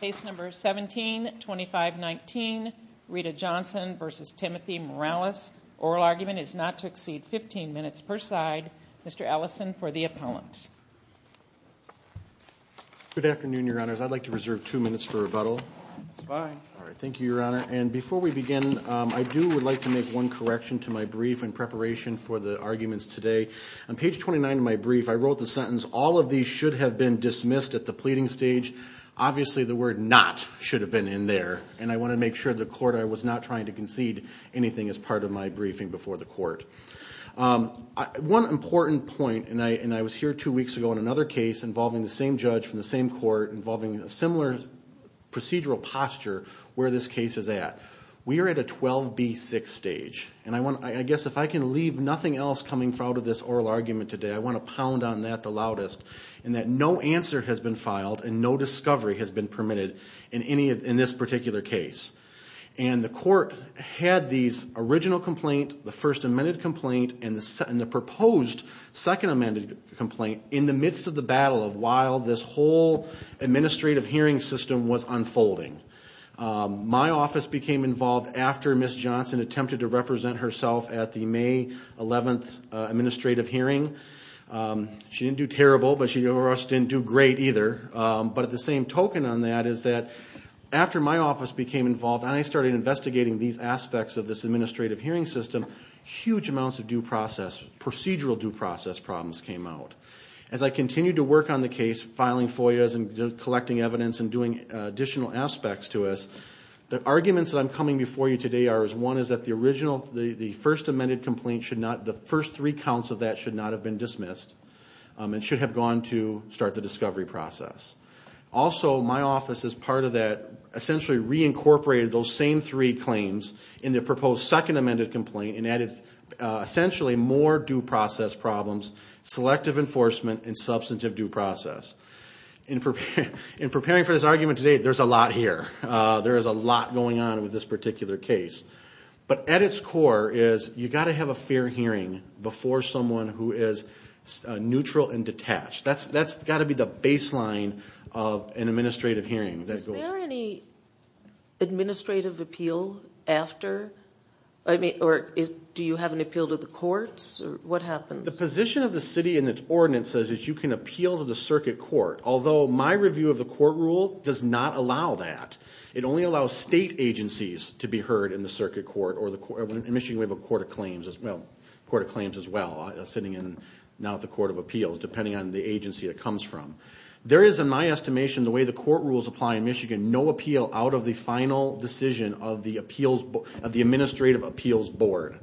Case number 172519 Rita Johnson versus Timothy Morales. Oral argument is not to exceed 15 minutes per side. Mr. Ellison for the appellant. Good afternoon your honors I'd like to reserve two minutes for rebuttal. Thank you your honor and before we begin I do would like to make one correction to my brief in preparation for the arguments today. On page 29 of my brief I wrote the stage obviously the word not should have been in there and I want to make sure the court I was not trying to concede anything as part of my briefing before the court. One important point and I and I was here two weeks ago in another case involving the same judge from the same court involving a similar procedural posture where this case is at. We are at a 12b6 stage and I want I guess if I can leave nothing else coming out of this oral argument today I want to pound on that the loudest and that no answer has been filed and no discovery has been permitted in any of in this particular case. And the court had these original complaint the first amended complaint and the second the proposed second amended complaint in the midst of the battle of while this whole administrative hearing system was unfolding. My office became involved after Miss Johnson attempted to represent herself at the May 11th she didn't do terrible but she or us didn't do great either but at the same token on that is that after my office became involved and I started investigating these aspects of this administrative hearing system huge amounts of due process procedural due process problems came out. As I continue to work on the case filing FOIAs and collecting evidence and doing additional aspects to us the arguments that I'm coming before you today are as one is that the original the the first amended complaint should not the first three counts of that should not have been dismissed and should have gone to start the discovery process. Also my office is part of that essentially reincorporated those same three claims in the proposed second amended complaint and that is essentially more due process problems, selective enforcement, and substantive due process. In preparing for this argument today there's a lot here there is a lot going on with this particular case but at its core is you got to have a hearing before someone who is neutral and detached that's that's got to be the baseline of an administrative hearing. Is there any administrative appeal after I mean or do you have an appeal to the courts or what happens? The position of the city and its ordinance says is you can appeal to the circuit court although my review of the court rule does not allow that it only allows state agencies to be heard in the circuit court or the court in Michigan we have a court of claims as well sitting in now the court of appeals depending on the agency it comes from. There is in my estimation the way the court rules apply in Michigan no appeal out of the final decision of the appeals of the administrative appeals board.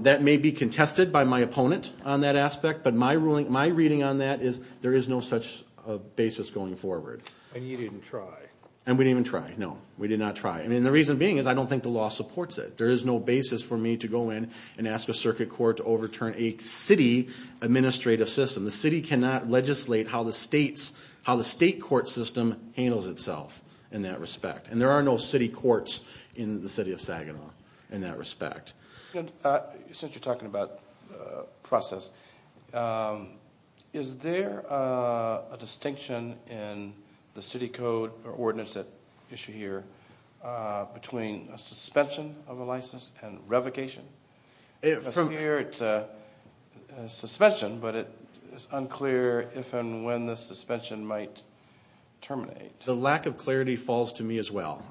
That may be contested by my opponent on that aspect but my ruling my reading on that is there is no such basis going forward. And you didn't try? And we didn't even try no we did not try and the reason being is I don't think the in and ask a circuit court to overturn a city administrative system the city cannot legislate how the state's how the state court system handles itself in that respect and there are no city courts in the city of Saginaw in that respect. Since you're talking about process is there a distinction in the city code or ordinance that issue here between a suspension of a license and provocation? From here it's a suspension but it is unclear if and when the suspension might terminate. The lack of clarity falls to me as well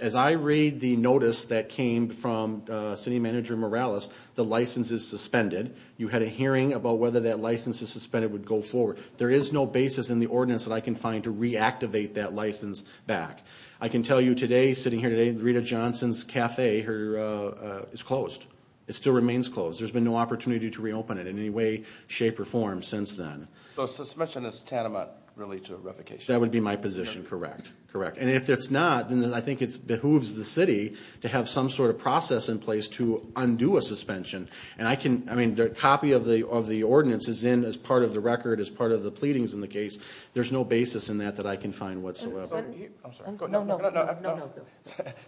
as I read the notice that came from city manager Morales the license is suspended you had a hearing about whether that license is suspended would go forward there is no basis in the ordinance that I can find to reactivate that license back. I can tell you today sitting here today Rita Johnson's cafe her is closed it still remains closed there's been no opportunity to reopen it in any way shape or form since then. So suspension is tantamount really to revocation? That would be my position correct correct and if it's not then I think it's behooves the city to have some sort of process in place to undo a suspension and I can I mean the copy of the of the ordinance is in as part of the record as part of the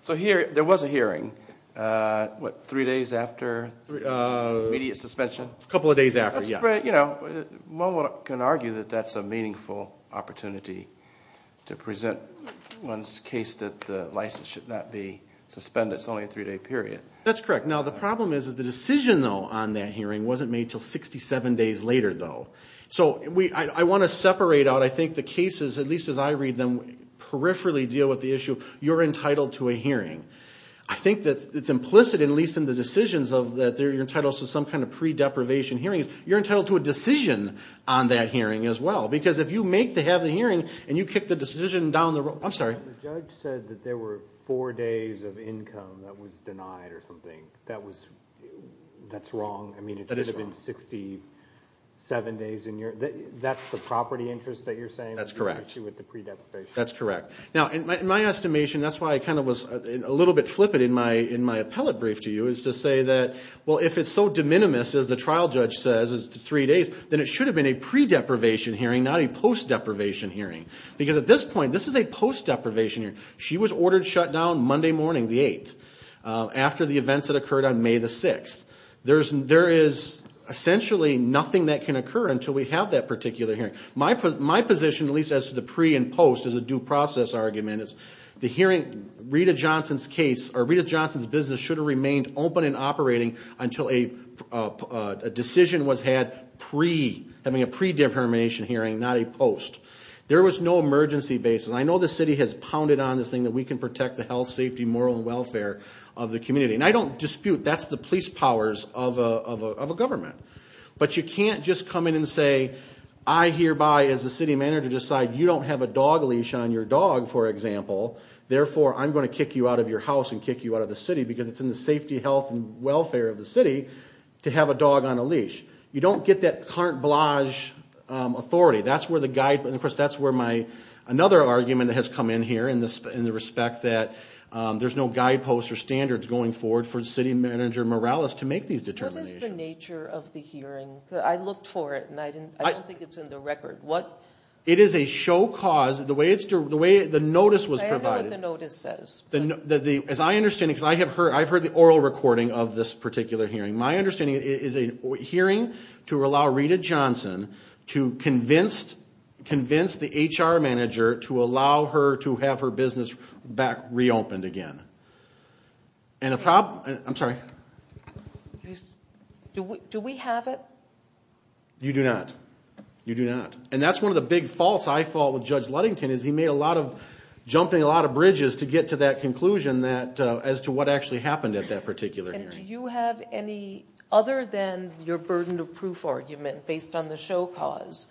so here there was a hearing what three days after media suspension a couple of days after yeah you know one can argue that that's a meaningful opportunity to present one's case that the license should not be suspended it's only a three-day period. That's correct now the problem is is the decision though on that hearing wasn't made till 67 days later though so we I want to separate out I think the cases at least as I read them peripherally deal with the issue you're entitled to a hearing. I think that's it's implicit in least in the decisions of that they're entitled to some kind of pre-deprivation hearings you're entitled to a decision on that hearing as well because if you make to have the hearing and you kick the decision down the road I'm sorry. The judge said that there were four days of income that was denied or something that was that's wrong I mean it should have been 67 days and you're that's the property interest that you're that's correct that's correct now in my estimation that's why I kind of was a little bit flippant in my in my appellate brief to you is to say that well if it's so de minimis as the trial judge says is three days then it should have been a pre deprivation hearing not a post deprivation hearing because at this point this is a post deprivation here she was ordered shut down Monday morning the 8th after the events that occurred on May the 6th there's there is essentially nothing that can occur until we have that particular hearing my put my position at least as to the pre and post is a due process argument is the hearing Rita Johnson's case or Rita Johnson's business should have remained open and operating until a decision was had pre having a pre-determination hearing not a post there was no emergency basis I know the city has pounded on this thing that we can protect the health safety moral and welfare of the community and I don't dispute that's the police powers of a but you can't just come in and say I hereby as the city manager decide you don't have a dog leash on your dog for example therefore I'm going to kick you out of your house and kick you out of the city because it's in the safety health and welfare of the city to have a dog on a leash you don't get that carte blanche authority that's where the guide but of course that's where my another argument that has come in here in this in the respect that there's no guideposts or standards going forward for city manager Morales to make these nature of the hearing I looked for it and I didn't I think it's in the record what it is a show cause the way it's to the way the notice was provided notice says then that the as I understand because I have heard I've heard the oral recording of this particular hearing my understanding is a hearing to allow Rita Johnson to convinced convince the HR manager to allow her to have her business back reopened again and a problem I'm sorry do we have it you do not you do not and that's one of the big faults I fall with judge Ludington is he made a lot of jumping a lot of bridges to get to that conclusion that as to what actually happened at that particular you have any other than your burden of proof argument based on the show cause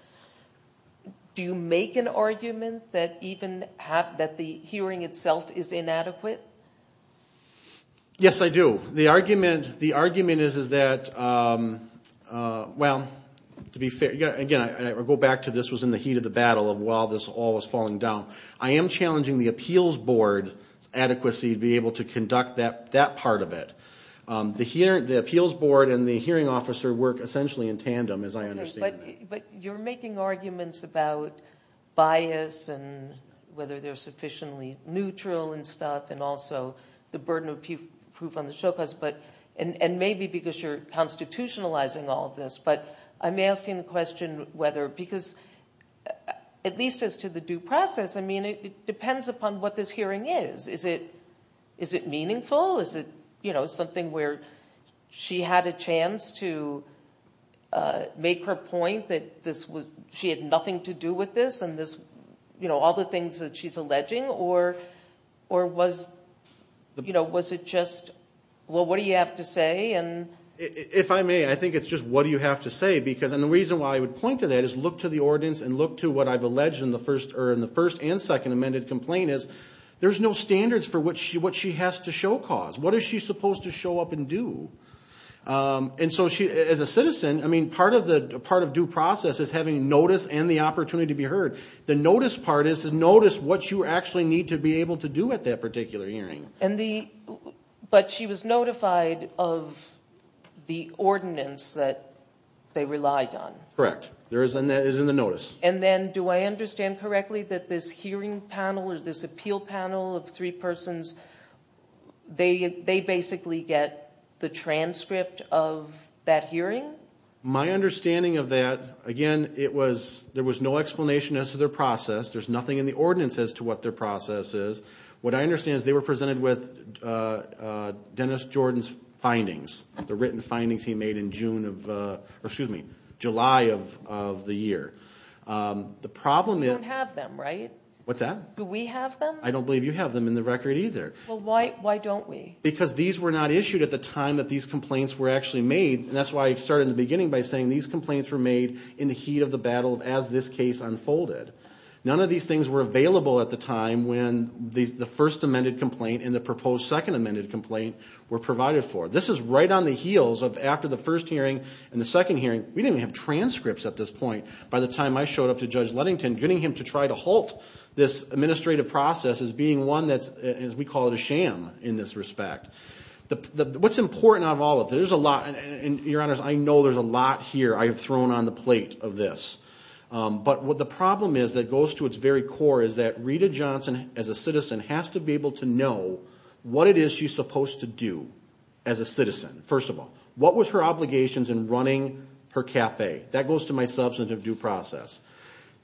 do you make an argument that even have that the hearing itself is inadequate yes I do the argument the argument is is that well to be fair again I go back to this was in the heat of the battle of while this all was falling down I am challenging the appeals board adequacy to be able to conduct that that part of it the here the appeals board and the hearing officer work essentially in tandem as I but you're making arguments about bias and whether they're sufficiently neutral and stuff and also the burden of proof on the show cause but and and maybe because you're constitutionalizing all this but I'm asking the question whether because at least as to the due process I mean it depends upon what this hearing is is it is it meaningful is it you know something where she had a chance to make her point that this was she had nothing to do with this and this you know all the things that she's alleging or or was you know was it just well what do you have to say and if I may I think it's just what do you have to say because and the reason why I would point to that is look to the ordinance and look to what I've alleged in the first or in the first and second amended complaint is there's no standards for which she what she has to show cause what is she part of due process is having notice and the opportunity to be heard the notice part is to notice what you actually need to be able to do at that particular hearing and the but she was notified of the ordinance that they relied on correct there is and that is in the notice and then do I understand correctly that this hearing panel is this appeal panel of three persons they basically get the transcript of that hearing my understanding of that again it was there was no explanation as to their process there's nothing in the ordinance as to what their process is what I understand is they were presented with Dennis Jordan's findings the written findings he made in June of excuse me July of the year the problem you don't have them right what's that do we have them I don't believe you have them in the record either well why why don't we because these were not issued at the time that these complaints were actually made and that's why I started in the beginning by saying these complaints were made in the heat of the battle as this case unfolded none of these things were available at the time when these the first amended complaint in the proposed second amended complaint were provided for this is right on the heels of after the first hearing and the second hearing we didn't have transcripts at this point by the time I showed up to judge Ludington getting him to try to halt this administrative process as being one that's as we call it a sham in this respect the what's important of all of there's a lot and your honors I know there's a lot here I have thrown on the plate of this but what the problem is that goes to its very core is that Rita Johnson as a citizen has to be able to know what it is she's supposed to do as a citizen first of all what was her obligations in running her cafe that goes to my substantive due process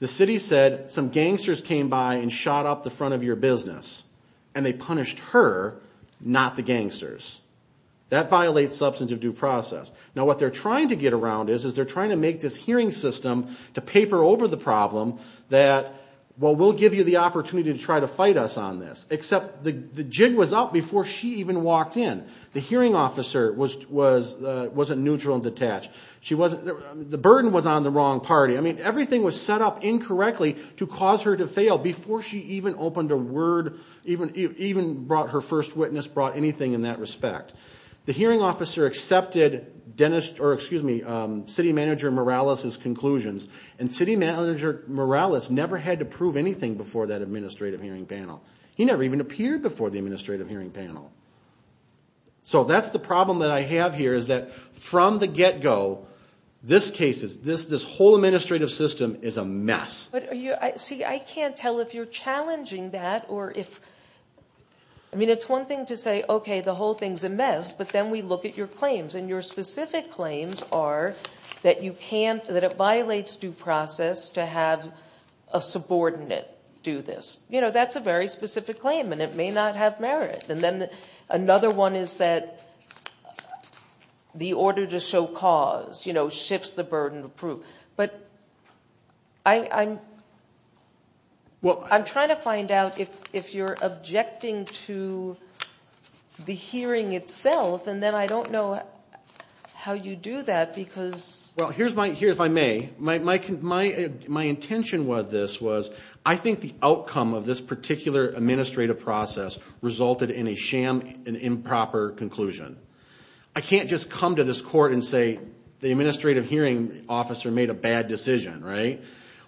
the city said some gangsters came by and shot up the her not the gangsters that violates substantive due process now what they're trying to get around is is they're trying to make this hearing system to paper over the problem that well we'll give you the opportunity to try to fight us on this except the the jig was up before she even walked in the hearing officer was was wasn't neutral and detached she wasn't the burden was on the wrong party I mean everything was set up incorrectly to cause her to fail before she even opened a word even even brought her first witness brought anything in that respect the hearing officer accepted Dennis or excuse me city manager Morales his conclusions and city manager Morales never had to prove anything before that administrative hearing panel he never even appeared before the administrative hearing panel so that's the problem that I have here is that from the get-go this case is this this whole administrative system is a mess but are you I see I can't tell if you're challenging that or if I mean it's one thing to say okay the whole thing's a mess but then we look at your claims and your specific claims are that you can't that it violates due process to have a subordinate do this you know that's a very specific claim and it may not have merit and then another one is that the order to show cause you know shifts the burden of proof but I'm well I'm trying to find out if if you're objecting to the hearing itself and then I don't know how you do that because well here's my here if I may my intention was this was I think the outcome of this particular administrative process resulted in a sham an improper conclusion I can't just come to this court and say the administrative hearing officer made a bad decision right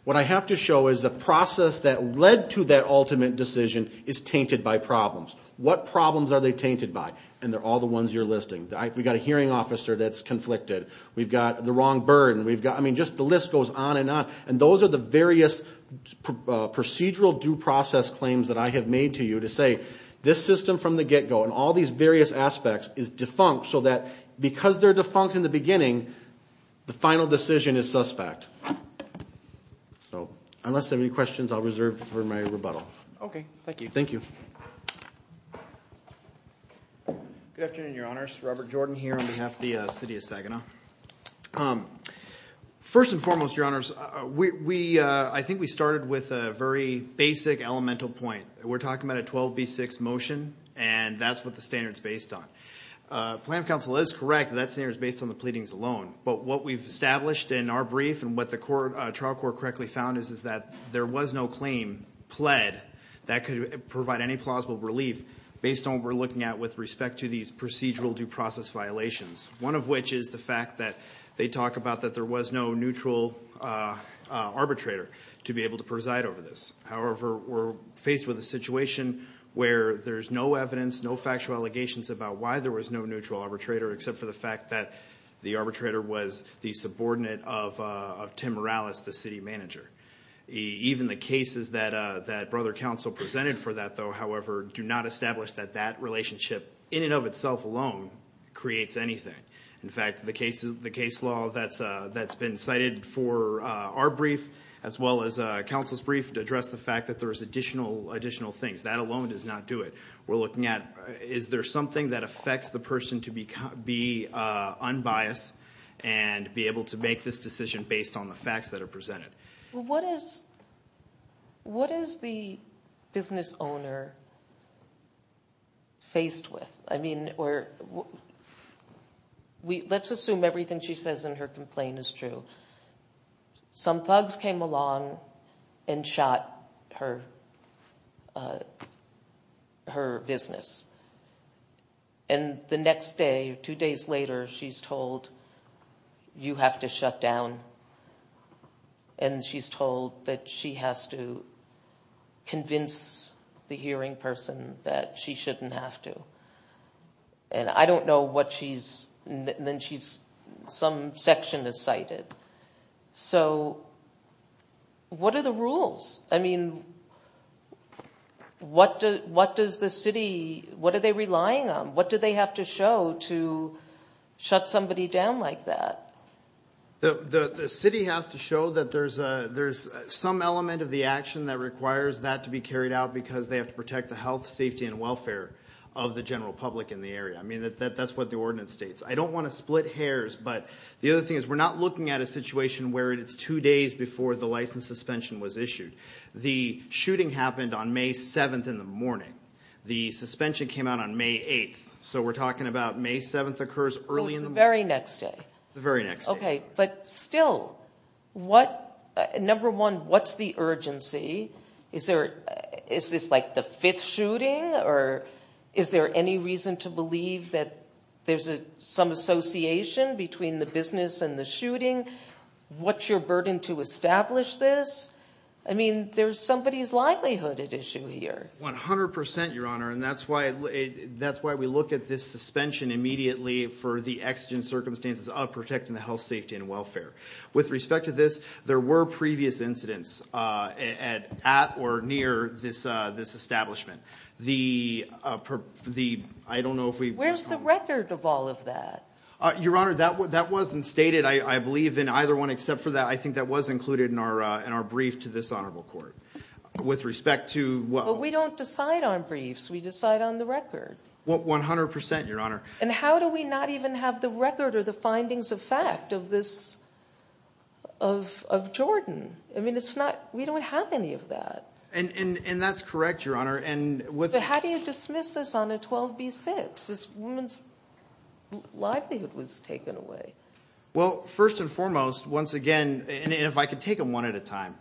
what I have to show is the process that led to that ultimate decision is tainted by problems what problems are they tainted by and they're all the ones you're listing that we got a hearing officer that's conflicted we've got the wrong bird and we've got I mean just the list goes on and on and those are the various procedural due process claims that I have made to you to say this system from the get-go and all these various aspects is defunct so that because they're defunct in the final decision is suspect so unless any questions I'll reserve for my rebuttal okay thank you thank you Robert Jordan here on behalf the city of Saginaw first and foremost your honors we I think we started with a very basic elemental point we're talking about a 12b6 motion and that's what the standards based on plan council is correct that's near is based on the pleadings alone but what we've established in our brief and what the court trial court correctly found is is that there was no claim pled that could provide any plausible relief based on we're looking at with respect to these procedural due process violations one of which is the fact that they talked about that there was no neutral arbitrator to be able to preside over this however we're faced with a situation where there's no evidence no factual allegations about why there was no neutral arbitrator except for the fact that the arbitrator was the subordinate of Tim Morales the city manager even the cases that that brother council presented for that though however do not establish that that relationship in and of itself alone creates anything in fact the cases the case law that's that's been cited for our brief as well as a council's brief to address the fact that there is additional additional things that alone does not do it we're looking at is there something that affects the person to become be unbiased and be able to make this decision based on the facts that are presented what is what is the business owner faced with I mean we're we let's assume everything she says in her complaint is true some thugs came along and shot her her business and the next day two days later she's told you have to shut down and she's told that she has to convince the hearing person that she shouldn't have to and I don't know what she's and then she's some section is cited so what are the rules I mean what does what does the city what are they relying on what do they have to show to shut somebody down like that the city has to show that there's a there's some element of the action that requires that to be carried out because they have to protect the health safety and welfare of the general public in the area I mean that that's what the ordinance states I don't want to split hairs but the other thing is we're not looking at a situation where it's two days before the license suspension was issued the shooting happened on May 7th in the morning the suspension came out on May 8th so we're talking about May 7th occurs early in the very next day the very next okay but still what number one what's the urgency is there is this like the fifth shooting or is there any reason to believe that there's a some association between the business and the shooting what's your burden to establish this I mean there's somebody's likelihood at issue here 100% your honor and that's why that's why we look at this suspension immediately for the exigent circumstances of protecting the health safety and welfare with respect to this there were previous incidents at or near this this establishment the the I don't know if we where's the record of all of that your honor that what that wasn't stated I believe in either one except for that I think that was included in our in our brief to this honorable court with respect to what we don't decide on briefs we decide on the record what 100% your honor and how do we not even have the record or the findings of fact of this of of Jordan I mean it's not we don't have any of that and and and that's correct your honor and with how do you dismiss this on a 12b6 this woman's livelihood was taken away well first and foremost once again and if I could take them one at a time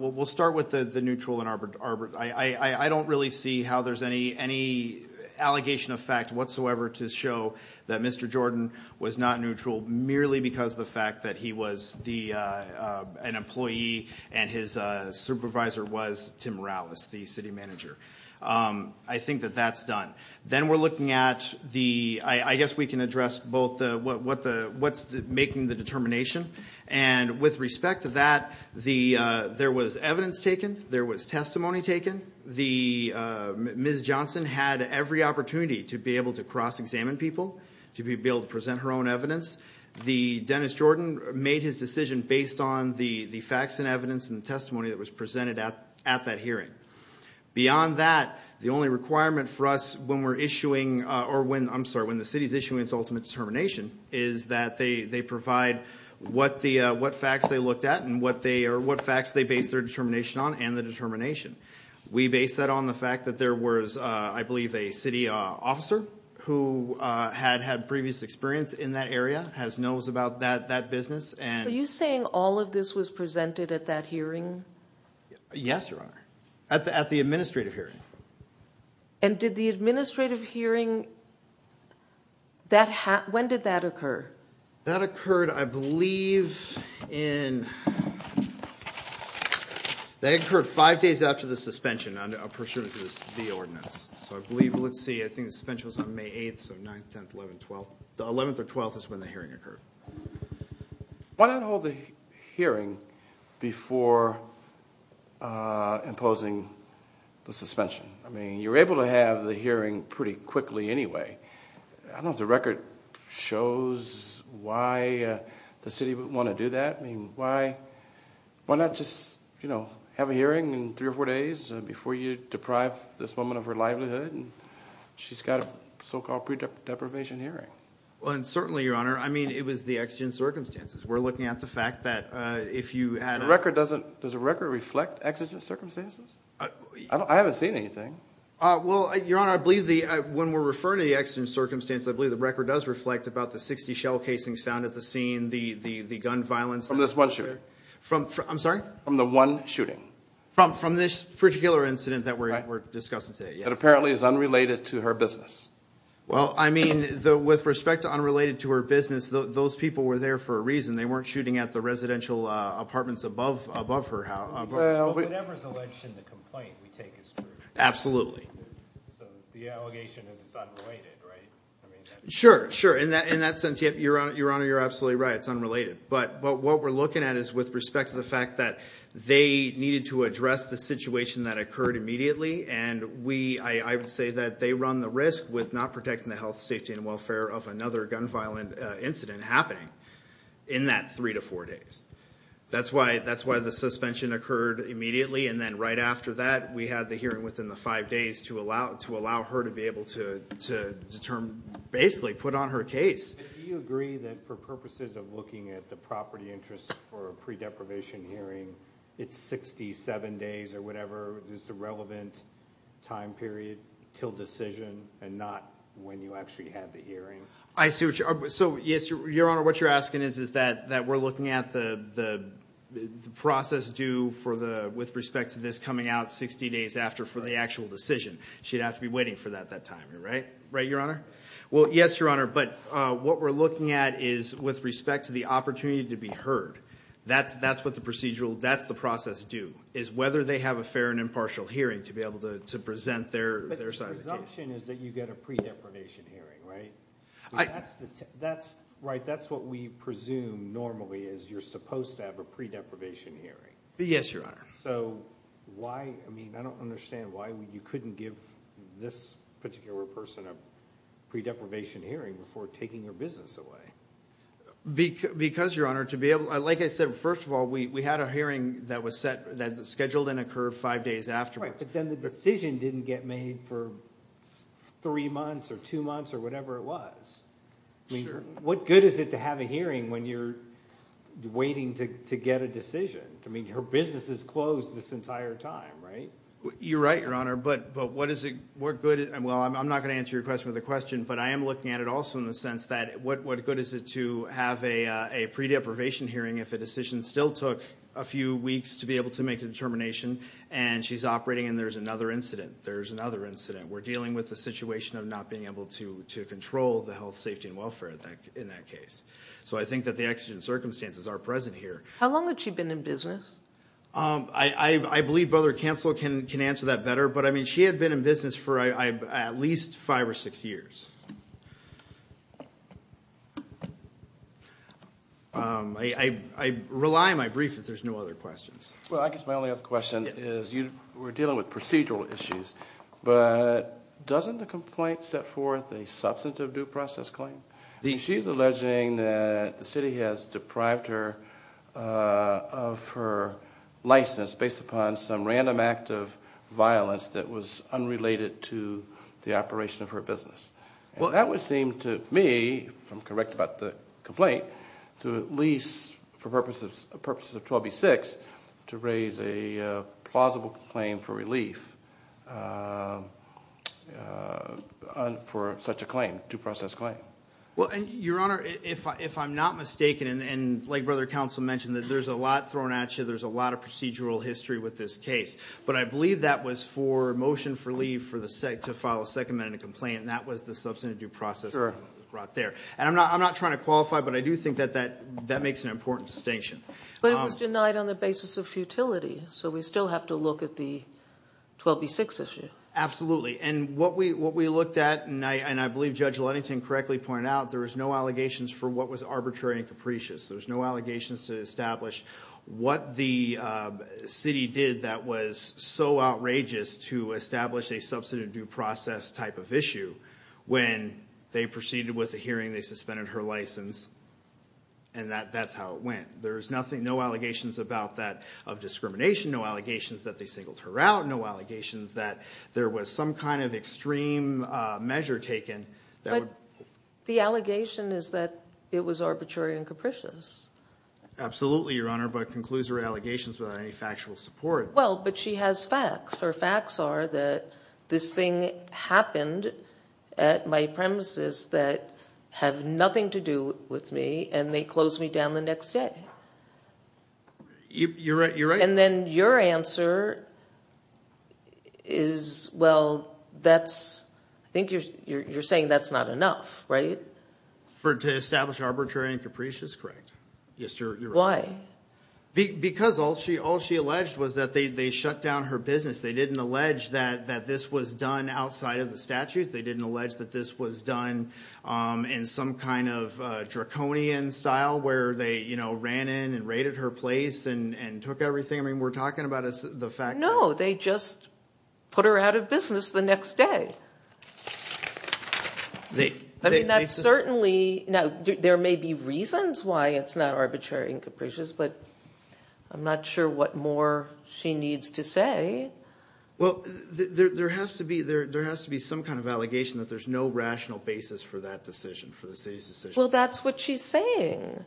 we'll start with the the neutral in Arbor Arbor I I don't really see how there's any any allegation of fact whatsoever to show that mr. Jordan was not neutral merely because the fact that he was the an employee and his supervisor was Tim Rallis the city manager I think that that's done then we're looking at the I guess we can address both what what the what's making the determination and with respect to that the there was evidence taken there was testimony taken the Ms. Johnson had every opportunity to be able to cross-examine people to be able to present her own evidence the Dennis Jordan made his decision based on the the facts and evidence and testimony that was presented at at that hearing beyond that the only requirement for us when we're issuing or when I'm sorry when the city's issuing its ultimate determination is that they they provide what the what facts they looked at and what they are what facts they base their determination on and the determination we base that on the fact that there was I believe a city officer who had had previous experience in that area has knows about that that business and you saying all of this was presented at that hearing yes your honor at the at the administrative hearing and did the administrative hearing that hat when did that occur that occurred I believe in they occurred five days after the suspension under a pursuit of this the ordinance so I believe let's see I think the specials on May 8th so 9th 10th 11th 12th the 11th or 12th is when the hearing occurred why not hold the hearing before imposing the suspension I mean you're able to have the hearing pretty quickly anyway I don't the record shows why the city would want to do that I mean why why not just you know have a hearing in three or four days before you deprive this woman of her livelihood and she's got a so-called pre deprivation hearing well and certainly your honor I mean it was the exigent circumstances we're looking at the fact that if you had a record doesn't does a record reflect exigent circumstances I haven't seen anything well your honor I believe the when we're the record does reflect about the 60 shell casings found at the scene the the the gun violence from this one shooter from I'm sorry I'm the one shooting from from this particular incident that we're discussing today it apparently is unrelated to her business well I mean the with respect to unrelated to her business those people were there for a reason they weren't shooting at the sure in that in that sense you're on your honor you're absolutely right it's unrelated but but what we're looking at is with respect to the fact that they needed to address the situation that occurred immediately and we I would say that they run the risk with not protecting the health safety and welfare of another gun violent incident happening in that three to four days that's why that's why the suspension occurred immediately and then right after that we had the hearing within the five days to allow to allow her to be on her case do you agree that for purposes of looking at the property interest for a pre-deprivation hearing it's 67 days or whatever is the relevant time period till decision and not when you actually have the hearing I see which are so yes your honor what you're asking is is that that we're looking at the the process due for the with respect to this coming out 60 days after for the actual decision she'd have to be waiting for that that time you're right right well yes your honor but what we're looking at is with respect to the opportunity to be heard that's that's what the procedural that's the process do is whether they have a fair and impartial hearing to be able to present their that's right that's what we presume normally is you're supposed to have a pre-deprivation hearing yes your honor so why I mean I don't understand why you couldn't give this particular person a pre-deprivation hearing before taking your business away because your honor to be able I like I said first of all we had a hearing that was set that scheduled and occurred five days after but then the decision didn't get made for three months or two months or whatever it was what good is it to have a hearing when you're waiting to get a right you're right your honor but but what is it we're good and well I'm not gonna answer your question with a question but I am looking at it also in the sense that what what good is it to have a pre-deprivation hearing if a decision still took a few weeks to be able to make a determination and she's operating and there's another incident there's another incident we're dealing with the situation of not being able to to control the health safety and welfare in that case so I think that the exigent circumstances are present here how long I believe brother counsel can can answer that better but I mean she had been in business for I at least five or six years I rely my brief if there's no other questions well I guess my only other question is you were dealing with procedural issues but doesn't the complaint set forth a substantive due process claim the she's alleging that the city has deprived her of her license based upon some random act of violence that was unrelated to the operation of her business well that would seem to me from correct about the complaint to at least for purposes purposes of 12b6 to raise a plausible claim for relief for such a claim to process claim well and your honor if I'm not mistaken and like brother counsel mentioned that there's a lot thrown at you there's a lot of procedural history with this case but I believe that was for motion for leave for the sake to file a second and a complaint and that was the substantive due process or brought there and I'm not I'm not trying to qualify but I do think that that that makes an important distinction but it was denied on the basis of futility so we still have to look at the 12b6 issue absolutely and what we what we looked at and I and I believe judge Lennington correctly pointed out there is no allegations for what was arbitrary and capricious there's no allegations to establish what the city did that was so outrageous to establish a substantive due process type of issue when they proceeded with the hearing they suspended her license and that that's how it went there's nothing no allegations about that of discrimination no allegations that they singled her out no allegations that there was some kind of extreme measure taken that the allegation is that it was arbitrary and capricious absolutely your honor but concludes her allegations without any factual support well but she has facts her facts are that this thing happened at my premises that have nothing to do with me and they closed me down the next day you're right you're answer is well that's I think you're saying that's not enough right for to establish arbitrary and capricious correct yes sir why because all she all she alleged was that they shut down her business they didn't allege that that this was done outside of the statutes they didn't allege that this was done in some kind of draconian style where they you know ran in and raided her place and took everything I mean we're talking about us the fact no they just put her out of business the next day they I mean that's certainly now there may be reasons why it's not arbitrary and capricious but I'm not sure what more she needs to say well there has to be there there has to be some kind of allegation that there's no rational basis for that decision for the city's well that's what she's saying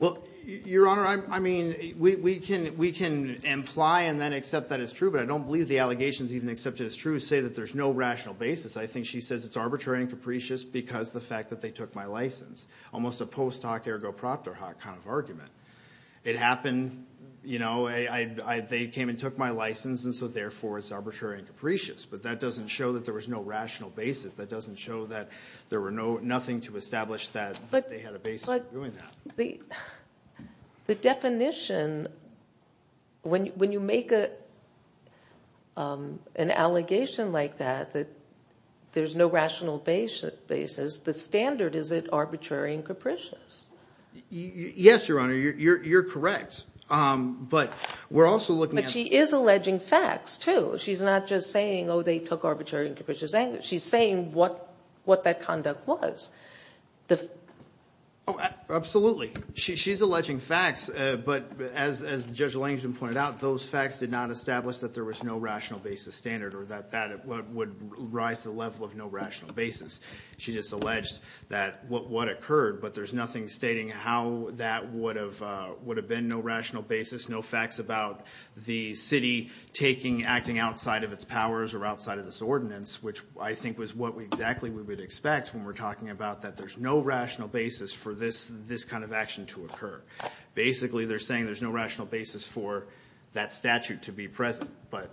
well your honor I mean we can we can imply and then accept that it's true but I don't believe the allegations even accepted as true say that there's no rational basis I think she says it's arbitrary and capricious because the fact that they took my license almost a post hoc ergo proctor hot kind of argument it happened you know I they came and took my license and so therefore it's arbitrary and capricious but that doesn't show that there was no rational basis that doesn't show that there were no nothing to the definition when you make it an allegation like that that there's no rational basis basis the standard is it arbitrary and capricious yes your honor you're correct but we're also looking but she is alleging facts too she's not just saying oh they took arbitrary and capricious anger she's saying what what that conduct was the oh absolutely she's alleging facts but as the judge Langston pointed out those facts did not establish that there was no rational basis standard or that that would rise the level of no rational basis she just alleged that what what occurred but there's nothing stating how that would have would have been no rational basis no facts about the city taking acting outside of its powers or outside of this ordinance which I think was what we exactly we would expect when we're talking about that there's no rational basis for this this kind of action to occur basically they're saying there's no rational basis for that statute to be present but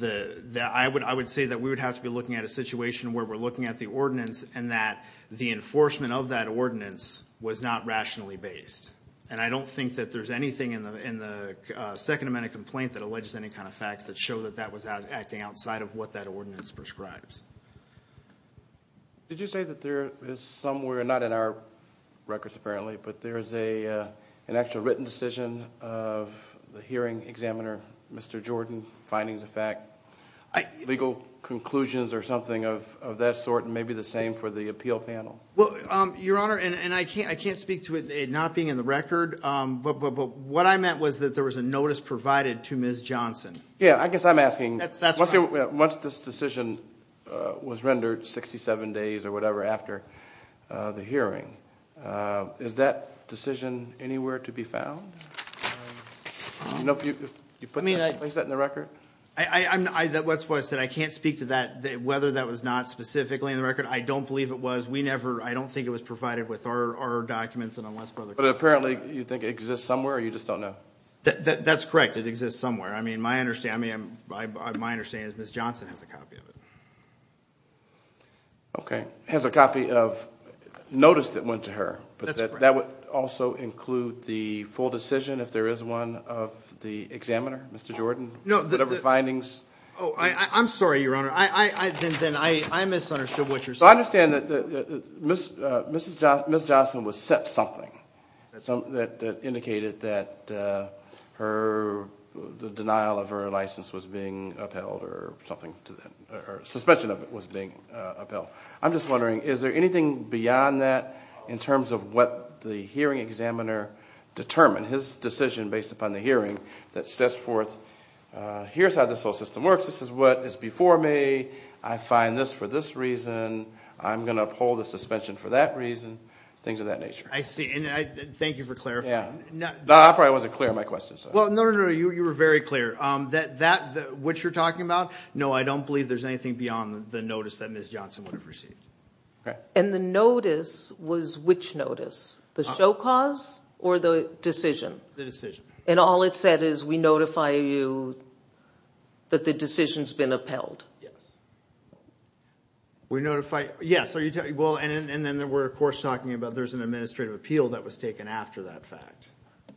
the I would I would say that we would have to be looking at a situation where we're looking at the ordinance and that the enforcement of that ordinance was not rationally based and I don't think that there's anything in the in the Second Amendment complaint that alleges any kind of facts that show that that was out acting outside of what that ordinance prescribes did you say that there is somewhere not in our records apparently but there's a an actual written decision of the hearing examiner mr. Jordan findings of fact I legal conclusions or something of that sort and maybe the same for the appeal panel well your honor and I can't I can't speak to it not being in the record but what I meant was that there was a notice provided to ms. Johnson yeah I guess I'm asking that's that's once this decision was rendered 67 days or whatever after the hearing is that decision anywhere to be found no you put me nice I set in the record I I'm that what's what I said I can't speak to that whether that was not specifically in the record I don't believe it was we never I don't think it was provided with our documents and unless brother but apparently you think exists somewhere you just don't know that that's correct it exists somewhere I mean my understand me I'm my understand is miss Johnson has a copy of it okay has a copy of notice that went to her but that would also include the full decision if there is one of the examiner mr. Jordan no whatever findings oh I I'm sorry your honor I then I I misunderstood what you're so I understand that the miss mrs. Johnson was set something so that indicated that her the denial of her license was being upheld or something to them or suspension of it was being upheld I'm just wondering is there anything beyond that in terms of what the hearing examiner determined his decision based upon the hearing that says forth here's how this whole system works this is what is before me I find this for this reason I'm gonna uphold the suspension for that reason things of that nature I see and I thank you for clarifying now I probably wasn't clear my questions well no no you you were very clear that that which you're talking about no I don't believe there's anything beyond the notice that miss Johnson would have received okay and the notice was which notice the show cause or the decision the decision and all it said is we notify you that the decision has been upheld yes we notify yes so you tell you well and then there were of course talking about there's an administrative appeal that was taken after that fact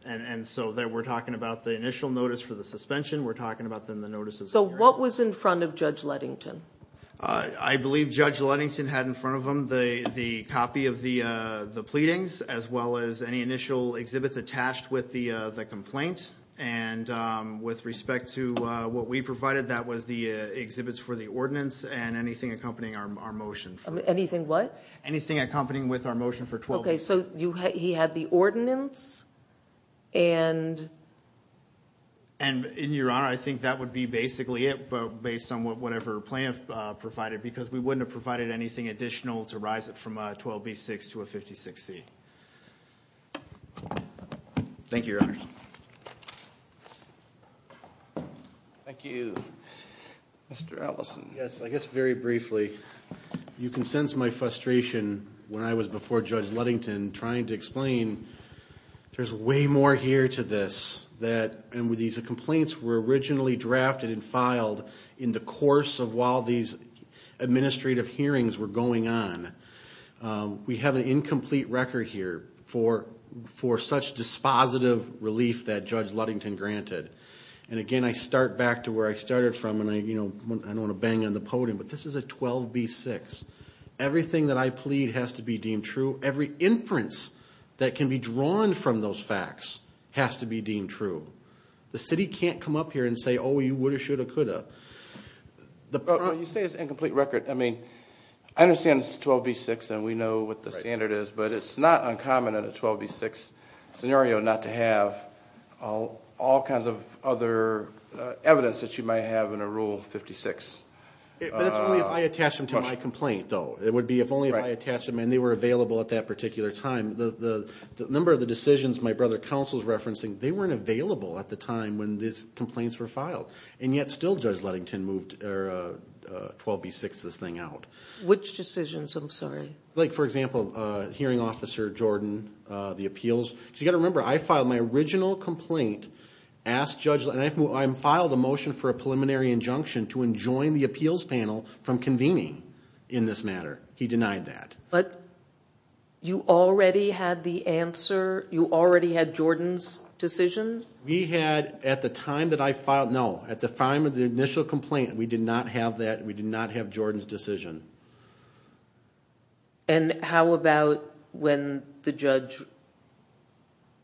and and so that we're talking about the initial notice for the suspension we're talking about them the notices so what was in front of judge Lettington I believe judge Lettington had in front of them the the copy of the the pleadings as well as any initial exhibits attached with the the complaint and with respect to what we provided that was the exhibits for the ordinance and anything accompanying our motion anything what anything accompanying with our motion for 12 okay so you had he had the ordinance and and in your honor I think that would be basically it but based on what whatever plan provided because we wouldn't have provided anything additional to rise it from 12 b6 to a 56 C thank you thank you mr. Allison yes I guess very briefly you before judge Lettington trying to explain there's way more here to this that and with these complaints were originally drafted and filed in the course of while these administrative hearings were going on we have an incomplete record here for for such dispositive relief that judge Lettington granted and again I start back to where I started from and I you know I don't want to bang on the podium but this is a 12 b6 everything that I plead has to be deemed true every inference that can be drawn from those facts has to be deemed true the city can't come up here and say oh you would have shoulda coulda the problem you say is incomplete record I mean I understand it's 12 b6 and we know what the standard is but it's not uncommon at a 12 b6 scenario not to have all all kinds of other evidence that you might have in a rule 56 I attach them to complaint though it would be if only I attach them and they were available at that particular time the number of the decisions my brother counsel's referencing they weren't available at the time when these complaints were filed and yet still judge Lettington moved 12 b6 this thing out which decisions I'm sorry like for example hearing officer Jordan the appeals you got to remember I filed my original complaint asked judge and I'm filed a motion for a preliminary injunction to enjoin the appeals panel from convening in this matter he denied that but you already had the answer you already had Jordan's decision we had at the time that I filed no at the time of the initial complaint we did not have that we did not have Jordan's decision and how about when the judge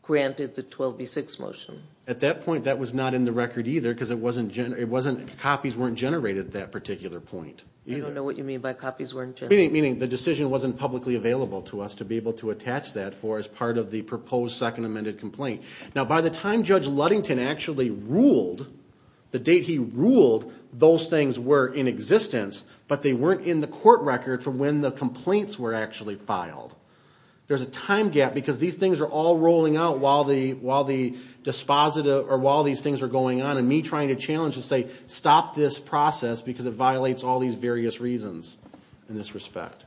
granted the 12 b6 motion at that point that was not in the record either because it wasn't Jen it wasn't copies weren't generated that particular point you don't know what you mean by copies weren't any meaning the decision wasn't publicly available to us to be able to attach that for as part of the proposed second amended complaint now by the time judge Ludington actually ruled the date he ruled those things were in existence but they weren't in the court record for when the complaints were actually filed there's a time gap because these things are all rolling out while the while the dispositive or while these things are going on and me trying to challenge to stop this process because it violates all these various reasons in this respect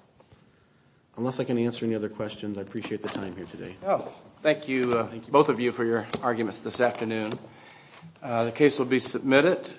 unless I can answer any other questions I appreciate the time here today oh thank you both of you for your arguments this afternoon the case will be submitted